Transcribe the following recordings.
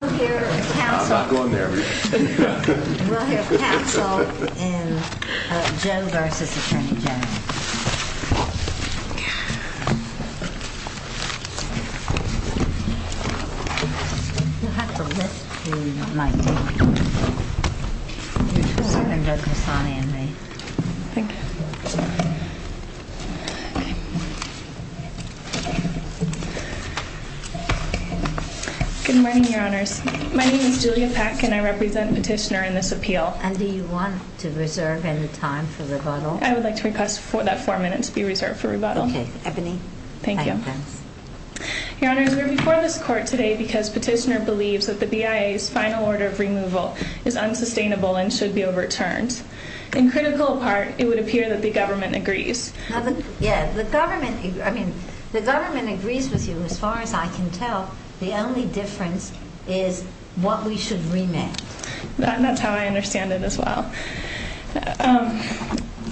We'll hear counsel in Joe v. Atty Gen. You'll have to list who you might be. Good morning, Your Honors. My name is Julia Pack and I represent Petitioner in this appeal. And do you want to reserve any time for rebuttal? I would like to request for that four minutes be reserved for rebuttal. Okay. Ebony. Thank you. Your Honors, we're before this court today because Petitioner believes that the BIA's final order of removal is unsustainable and should be overturned. In critical part, it would appear that the government agrees. Yeah, the government, I mean, the government agrees with you as far as I can tell. The only difference is what we should remit. That's how I understand it as well.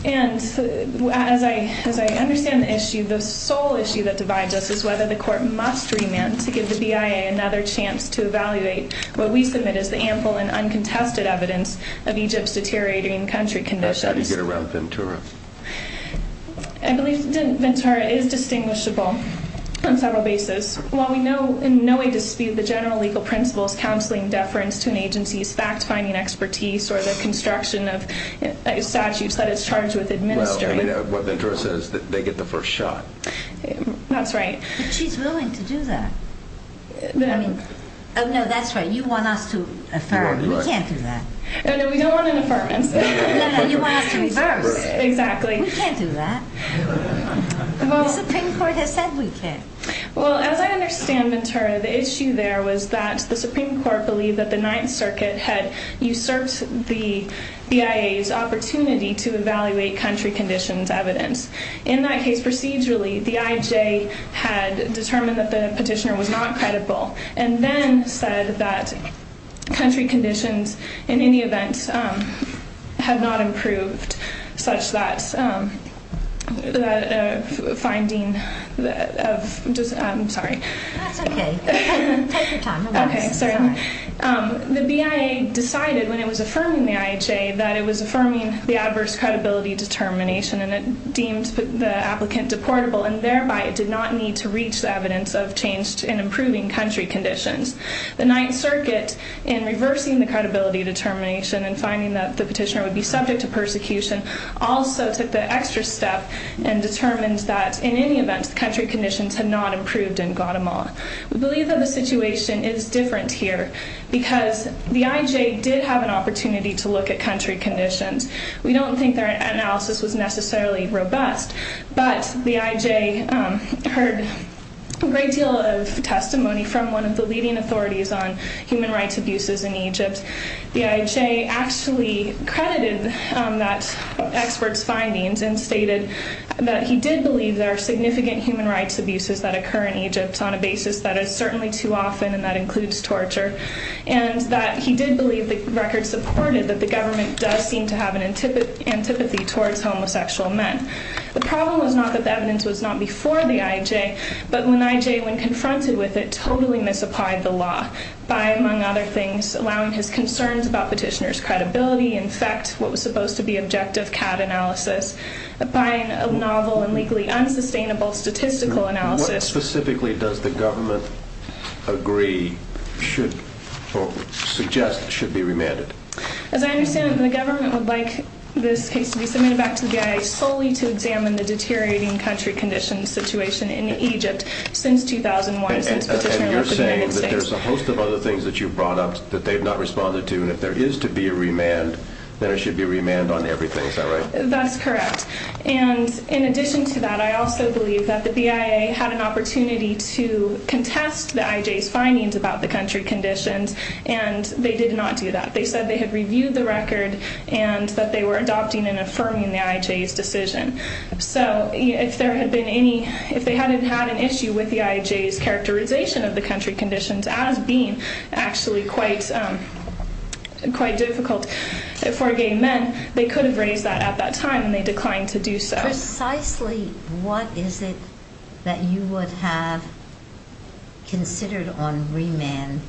And as I understand the issue, the sole issue that divides us is whether the court must remit to give the BIA another chance to evaluate what we submit as the ample and uncontested evidence of Egypt's deteriorating country conditions. That's how to get around Ventura. I believe Ventura is distinguishable on several bases. Well, we know in no way dispute the general legal principles counseling deference to an agency's fact-finding expertise or the construction of statutes that it's charged with administering. Well, I mean, what Ventura says, they get the first shot. That's right. But she's willing to do that. I mean, oh, no, that's right. You want us to affirm. We can't do that. No, no, we don't want an affirmance. No, no, you want us to reverse. Exactly. We can't do that. The Supreme Court has said we can. Well, as I understand Ventura, the issue there was that the Supreme Court believed that the Ninth Circuit had usurped the BIA's opportunity to evaluate country conditions evidence. In that case, procedurally, the IHA had determined that the petitioner was not credible and then said that country conditions, in any event, had not improved such that the finding of just – I'm sorry. That's okay. Take your time. Okay, certainly. The BIA decided when it was affirming the IHA that it was affirming the adverse credibility determination and it deemed the applicant deportable and thereby it did not need to reach the evidence of change in improving country conditions. The Ninth Circuit, in reversing the credibility determination and finding that the petitioner would be subject to persecution, also took the extra step and determined that, in any event, country conditions had not improved in Guatemala. We believe that the situation is different here because the IJ did have an opportunity to look at country conditions. We don't think their analysis was necessarily robust, but the IJ heard a great deal of testimony from one of the leading authorities on human rights abuses in Egypt. The IJ actually credited that expert's findings and stated that he did believe there are significant human rights abuses that occur in Egypt on a basis that is certainly too often, and that includes torture, and that he did believe the record supported that the government does seem to have an antipathy towards homosexual men. The problem was not that the evidence was not before the IJ, but when the IJ, when confronted with it, totally misapplied the law by, among other things, allowing his concerns about petitioner's credibility, in fact, what was supposed to be objective CAD analysis, by a novel and legally unsustainable statistical analysis. What specifically does the government agree should, or suggest should be remanded? As I understand it, the government would like this case to be submitted back to the BIA solely to examine the deteriorating country conditions situation in Egypt since 2001, since petitioner left the United States. And you're saying that there's a host of other things that you've brought up that they've not responded to, and if there is to be a remand, then there should be a remand on everything. Is that right? That's correct. And in addition to that, I also believe that the BIA had an opportunity to contest the IJ's findings about the country conditions, and they did not do that. They said they had reviewed the record and that they were adopting and affirming the IJ's decision. So if there had been any, if they hadn't had an issue with the IJ's characterization of the country conditions as being actually quite difficult for gay men, they could have raised that at that time, and they declined to do so. Precisely what is it that you would have considered on remand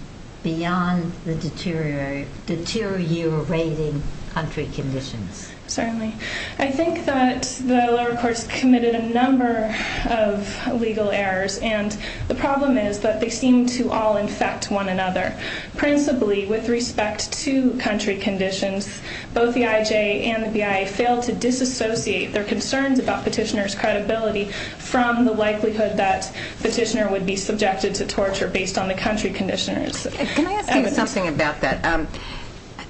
beyond the deteriorating country conditions? Certainly. I think that the lower courts committed a number of legal errors, and the problem is that they seem to all infect one another. Principally, with respect to country conditions, both the IJ and the BIA failed to disassociate their concerns about petitioner's credibility from the likelihood that petitioner would be subjected to torture based on the country conditions. Can I ask you something about that?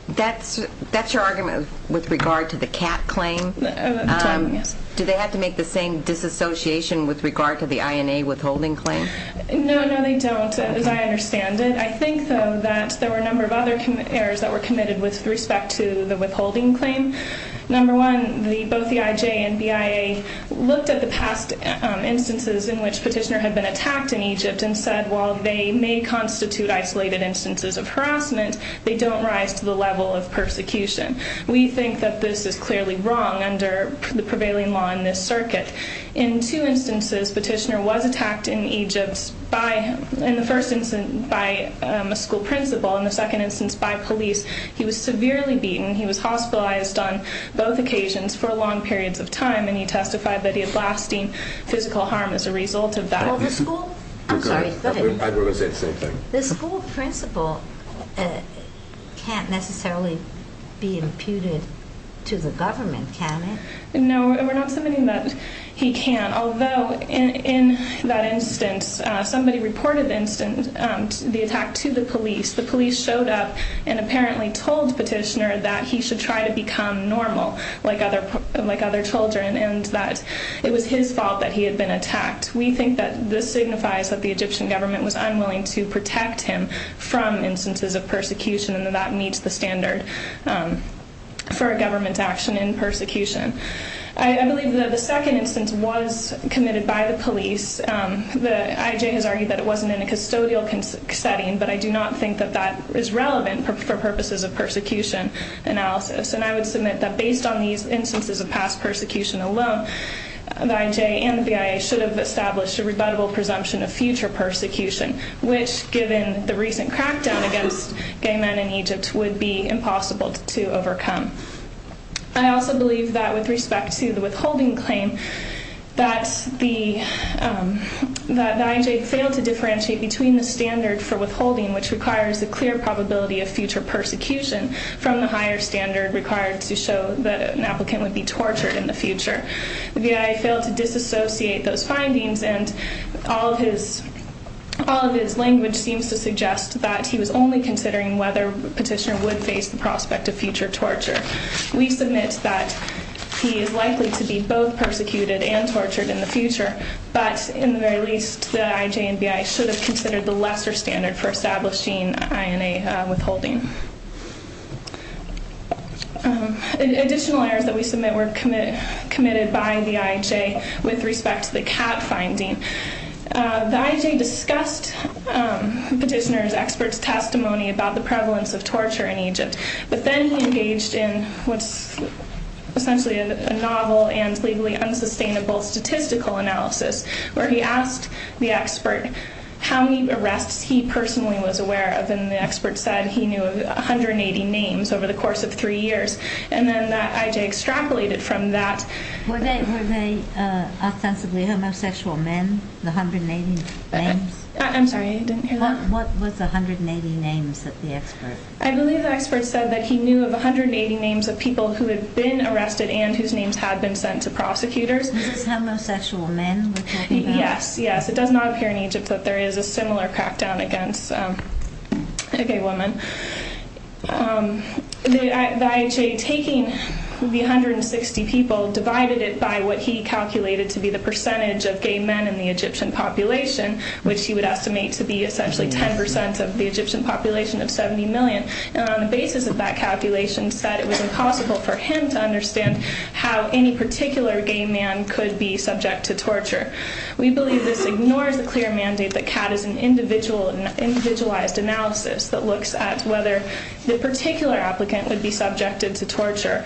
That's your argument with regard to the CAT claim? Yes. Do they have to make the same disassociation with regard to the INA withholding claim? No, no, they don't, as I understand it. I think, though, that there were a number of other errors that were committed with respect to the withholding claim. Number one, both the IJ and BIA looked at the past instances in which petitioner had been attacked in Egypt and said, while they may constitute isolated instances of harassment, they don't rise to the level of persecution. We think that this is clearly wrong under the prevailing law in this circuit. In two instances, petitioner was attacked in Egypt, in the first instance by a school principal, in the second instance by police. He was severely beaten. He was hospitalized on both occasions for long periods of time, and he testified that he had lasting physical harm as a result of that. The school principal can't necessarily be imputed to the government, can he? No, we're not submitting that he can't. Although, in that instance, somebody reported the attack to the police. The police showed up and apparently told petitioner that he should try to become normal, like other children, and that it was his fault that he had been attacked. We think that this signifies that the Egyptian government was unwilling to protect him from instances of persecution, and that that meets the standard for a government's action in persecution. I believe that the second instance was committed by the police. The IJ has argued that it wasn't in a custodial setting, but I do not think that that is relevant for purposes of persecution analysis. And I would submit that based on these instances of past persecution alone, the IJ and the BIA should have established a rebuttable presumption of future persecution, which, given the recent crackdown against gay men in Egypt, would be impossible to overcome. I also believe that with respect to the withholding claim, that the IJ failed to differentiate between the standard for withholding, which requires a clear probability of future persecution, from the higher standard required to show that an applicant would be tortured in the future. The BIA failed to disassociate those findings, and all of his language seems to suggest that he was only considering whether petitioner would face the prospect of future torture. We submit that he is likely to be both persecuted and tortured in the future, but in the very least, the IJ and BIA should have considered the lesser standard for establishing INA withholding. Additional errors that we submit were committed by the IJ with respect to the cat finding. The IJ discussed petitioner's expert testimony about the prevalence of torture in Egypt, but then he engaged in what's essentially a novel and legally unsustainable statistical analysis, where he asked the expert how many arrests he personally was aware of, and the expert said he knew of 180 names over the course of three years. And then that IJ extrapolated from that. Were they ostensibly homosexual men, the 180 names? I'm sorry, I didn't hear that. What was the 180 names that the expert said? I believe the expert said that he knew of 180 names of people who had been arrested and whose names had been sent to prosecutors. This is homosexual men? Yes, yes. It does not appear in Egypt that there is a similar crackdown against a gay woman. The IJ, taking the 160 people, divided it by what he calculated to be the percentage of gay men in the Egyptian population, which he would estimate to be essentially 10% of the Egyptian population of 70 million, and on the basis of that calculation said it was impossible for him to understand how any particular gay man could be subject to torture. We believe this ignores the clear mandate that CAT is an individualized analysis that looks at whether the particular applicant would be subjected to torture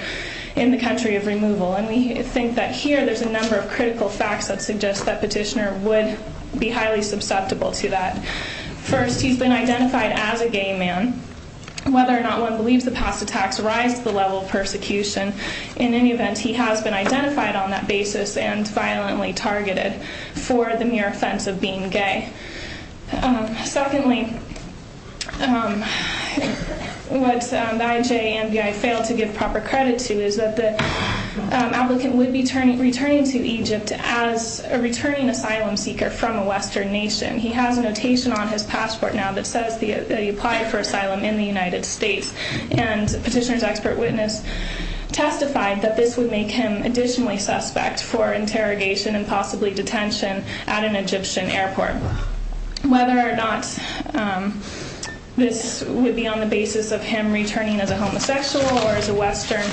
in the country of removal. And we think that here there's a number of critical facts that suggest that Petitioner would be highly susceptible to that. First, he's been identified as a gay man. Whether or not one believes the past attacks rise to the level of persecution, in any event, he has been identified on that basis and violently targeted for the mere offense of being gay. Secondly, what the IJ and NBI fail to give proper credit to is that the applicant would be returning to Egypt as a returning asylum seeker from a Western nation. He has a notation on his passport now that says that he applied for asylum in the United States, and Petitioner's expert witness testified that this would make him additionally suspect for interrogation and possibly detention at an Egyptian airport. Whether or not this would be on the basis of him returning as a homosexual or as a Western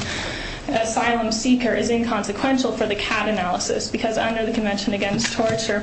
asylum seeker is inconsequential for the CAT analysis, because under the Convention Against Torture,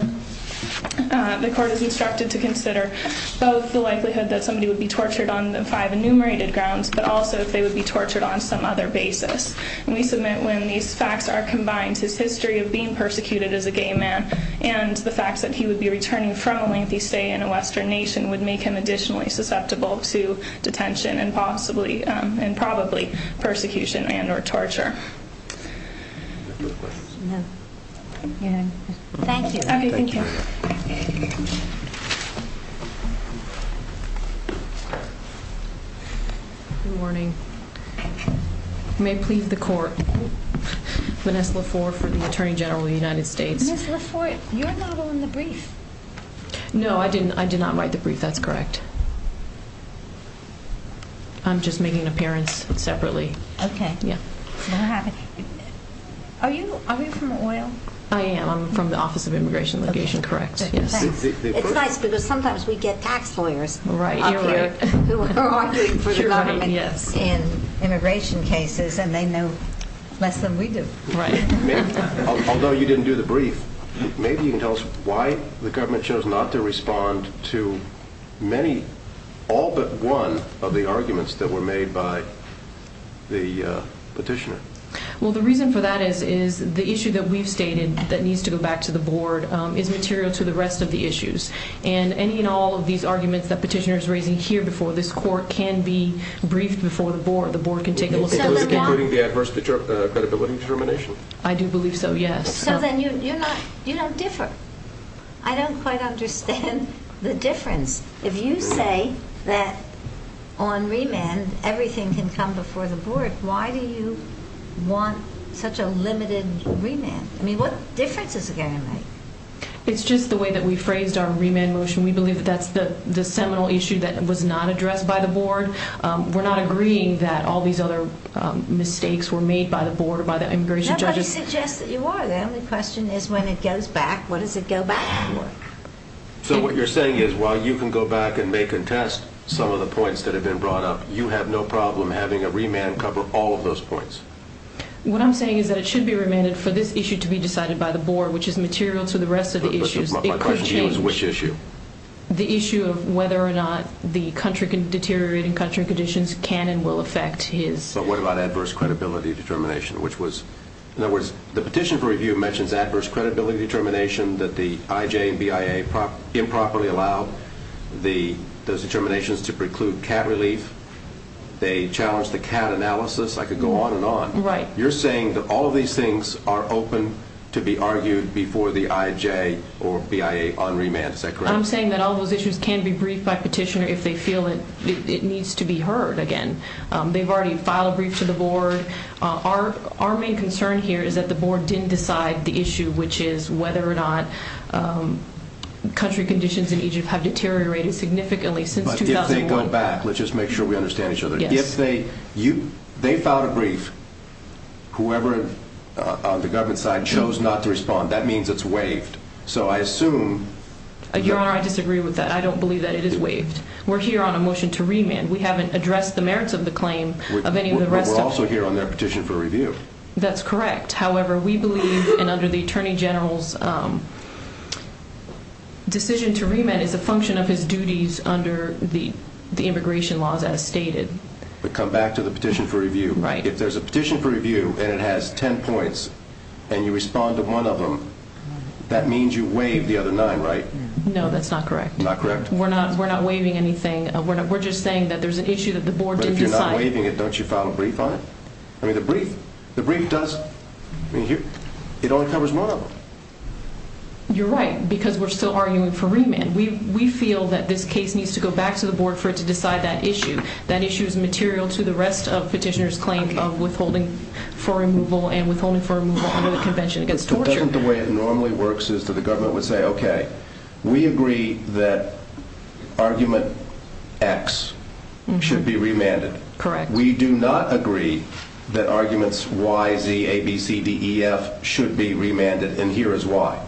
the court is instructed to consider both the likelihood that somebody would be tortured on the five enumerated grounds, but also if they would be tortured on some other basis. We submit when these facts are combined, his history of being persecuted as a gay man and the fact that he would be returning from a lengthy stay in a Western nation would make him additionally susceptible to detention and possibly and probably persecution and or torture. Thank you. Good morning. You may plead the court. Vanessa Lafour for the Attorney General of the United States. Ms. Lafour, you're not on the brief. No, I did not write the brief. That's correct. I'm just making an appearance separately. Okay. Yeah. Are you from OIL? I am. I'm from the Office of Immigration and Legation. Correct. Yes. It's nice because sometimes we get tax lawyers up here who are arguing for the government in immigration cases, and they know less than we do. Right. Although you didn't do the brief, maybe you can tell us why the government chose not to respond to many, all but one of the arguments that were made by the petitioner. Well, the reason for that is the issue that we've stated that needs to go back to the board is material to the rest of the issues. And any and all of these arguments that the petitioner is raising here before this court can be briefed before the board. The board can take a look at those. Including the adverse credibility determination? I do believe so, yes. So then you don't differ. I don't quite understand the difference. If you say that on remand everything can come before the board, why do you want such a limited remand? I mean, what difference is it going to make? It's just the way that we phrased our remand motion. We believe that that's the seminal issue that was not addressed by the board. We're not agreeing that all these other mistakes were made by the board or by the immigration judges. Nobody suggests that you are. The only question is when it goes back, what does it go back to? So what you're saying is while you can go back and may contest some of the points that have been brought up, you have no problem having a remand cover all of those points? What I'm saying is that it should be remanded for this issue to be decided by the board, which is material to the rest of the issues. My question to you is which issue? The issue of whether or not the deteriorating country conditions can and will affect his... So what about adverse credibility determination, which was... In other words, the petition for review mentions adverse credibility determination that the IJ and BIA improperly allowed those determinations to preclude cat relief. They challenged the cat analysis. I could go on and on. Right. You're saying that all of these things are open to be argued before the IJ or BIA on remand. Is that correct? I'm saying that all those issues can be briefed by petitioner if they feel it needs to be heard again. They've already filed a brief to the board. Our main concern here is that the board didn't decide the issue, which is whether or not country conditions in Egypt have deteriorated significantly since 2001. But if they go back, let's just make sure we understand each other. Yes. If they filed a brief, whoever on the government side chose not to respond, that means it's waived. So I assume... Your Honor, I disagree with that. I don't believe that it is waived. We're here on a motion to remand. We haven't addressed the merits of the claim of any of the rest of... But we're also here on their petition for review. That's correct. However, we believe and under the Attorney General's decision to remand is a function of his duties under the immigration laws as stated. But come back to the petition for review. Right. If there's a petition for review and it has 10 points and you respond to one of them, that means you waive the other nine, right? No, that's not correct. Not correct? We're not waiving anything. We're just saying that there's an issue that the board didn't decide. But if you're not waiving it, don't you file a brief on it? I mean, the brief does... It only covers one of them. You're right because we're still arguing for remand. We feel that this case needs to go back to the board for it to decide that issue. That issue is material to the rest of petitioner's claim of withholding for removal and withholding for removal under the Convention Against Torture. The way it normally works is that the government would say, okay, we agree that argument X should be remanded. Correct. We do not agree that arguments Y, Z, A, B, C, D, E, F should be remanded and here is why.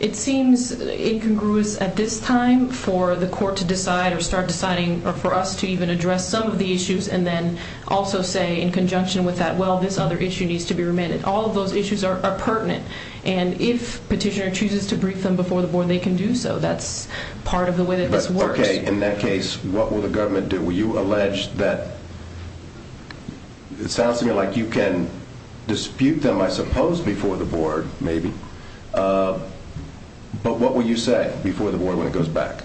It seems incongruous at this time for the court to decide or start deciding or for us to even address some of the issues and then also say in conjunction with that, well, this other issue needs to be remanded. All of those issues are pertinent and if petitioner chooses to brief them before the board, they can do so. That's part of the way that this works. Okay. In that case, what will the government do? You alleged that... It sounds to me like you can dispute them, I suppose, before the board maybe. But what will you say before the board when it goes back?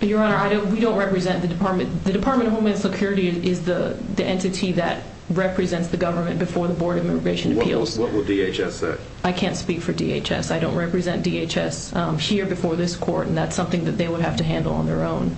Your Honor, we don't represent the department. The Department of Homeland Security is the entity that represents the government before the Board of Immigration Appeals. What will DHS say? I can't speak for DHS. I don't represent DHS here before this court and that's something that they would have to handle on their own.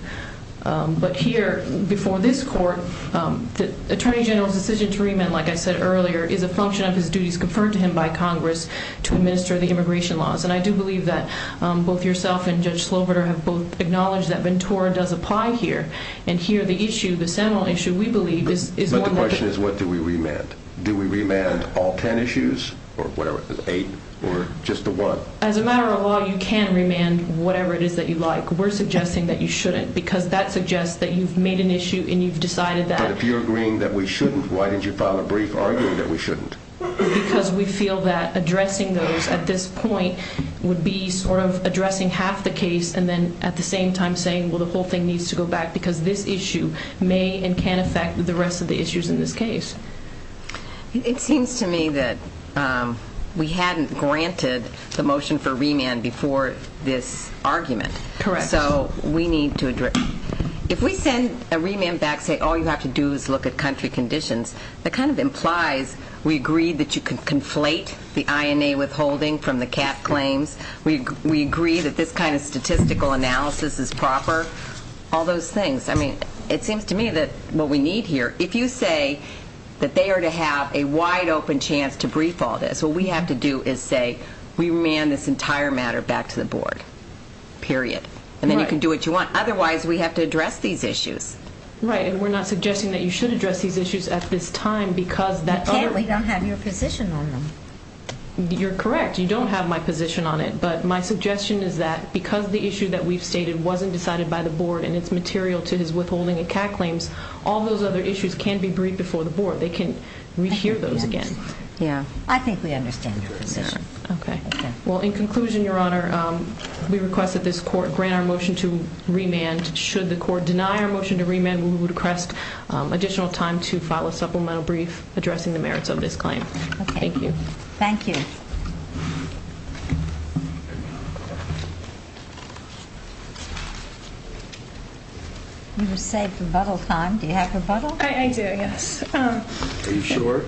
But here before this court, the Attorney General's decision to remand, like I said earlier, is a function of his duties conferred to him by Congress to administer the immigration laws. And I do believe that both yourself and Judge Sloverter have both acknowledged that Ventura does apply here. And here the issue, the seminal issue, we believe is... But the question is what do we remand? Do we remand all ten issues or whatever, eight or just the one? As a matter of law, you can remand whatever it is that you like. We're suggesting that you shouldn't because that suggests that you've made an issue and you've decided that... But if you're agreeing that we shouldn't, why did you file a brief arguing that we shouldn't? Because we feel that addressing those at this point would be sort of addressing half the case and then at the same time saying, well, the whole thing needs to go back because this issue may and can affect the rest of the issues in this case. It seems to me that we hadn't granted the motion for remand before this argument. Correct. So we need to address... If we send a remand back saying all you have to do is look at country conditions, that kind of implies we agree that you can conflate the INA withholding from the CAF claims, we agree that this kind of statistical analysis is proper, all those things. I mean, it seems to me that what we need here, if you say that they are to have a wide open chance to brief all this, what we have to do is say we remand this entire matter back to the board, period. And then you can do what you want. Otherwise, we have to address these issues. Right. And we're not suggesting that you should address these issues at this time because... You can't. We don't have your position on them. You're correct. You don't have my position on it. But my suggestion is that because the issue that we've stated wasn't decided by the board and it's material to his withholding of CAF claims, all those other issues can be briefed before the board. They can rehear those again. Yeah. I think we understand your position. Okay. Well, in conclusion, Your Honor, we request that this court grant our motion to remand. Should the court deny our motion to remand, we would request additional time to file a supplemental brief addressing the merits of this claim. Okay. Thank you. Thank you. You were saved rebuttal time. Do you have rebuttal? I do, yes. Are you sure?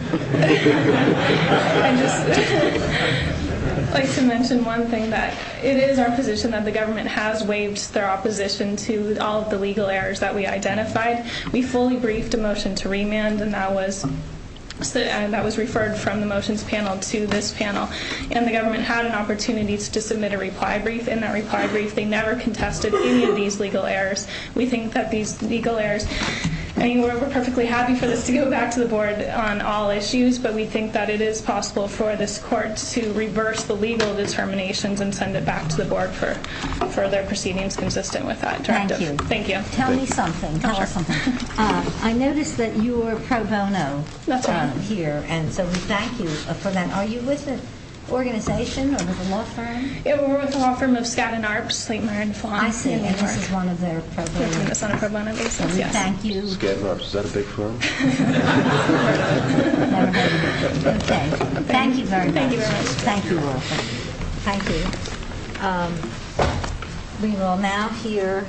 I'd just like to mention one thing. It is our position that the government has waived their opposition to all of the legal errors that we identified. We fully briefed a motion to remand, and that was referred from the motions panel to this panel. And the government had an opportunity to submit a reply brief. In that reply brief, they never contested any of these legal errors. We think that these legal errors, I mean, we're perfectly happy for this to go back to the board on all issues, but we think that it is possible for this court to reverse the legal determinations and send it back to the board for further proceedings consistent with that directive. Thank you. Thank you. Tell me something. Tell her something. I noticed that you were pro bono here. That's right. And so we thank you for that. Are you with an organization or with a law firm? Yeah, we're with the law firm of Skadden Arps, Sleipner and Fon. I see. And this is one of their pro bono reasons. Yes. Thank you. Skadden Arps, is that a big firm? Okay. Thank you very much. Thank you. Thank you all. Thank you. Thank you. We will now hear.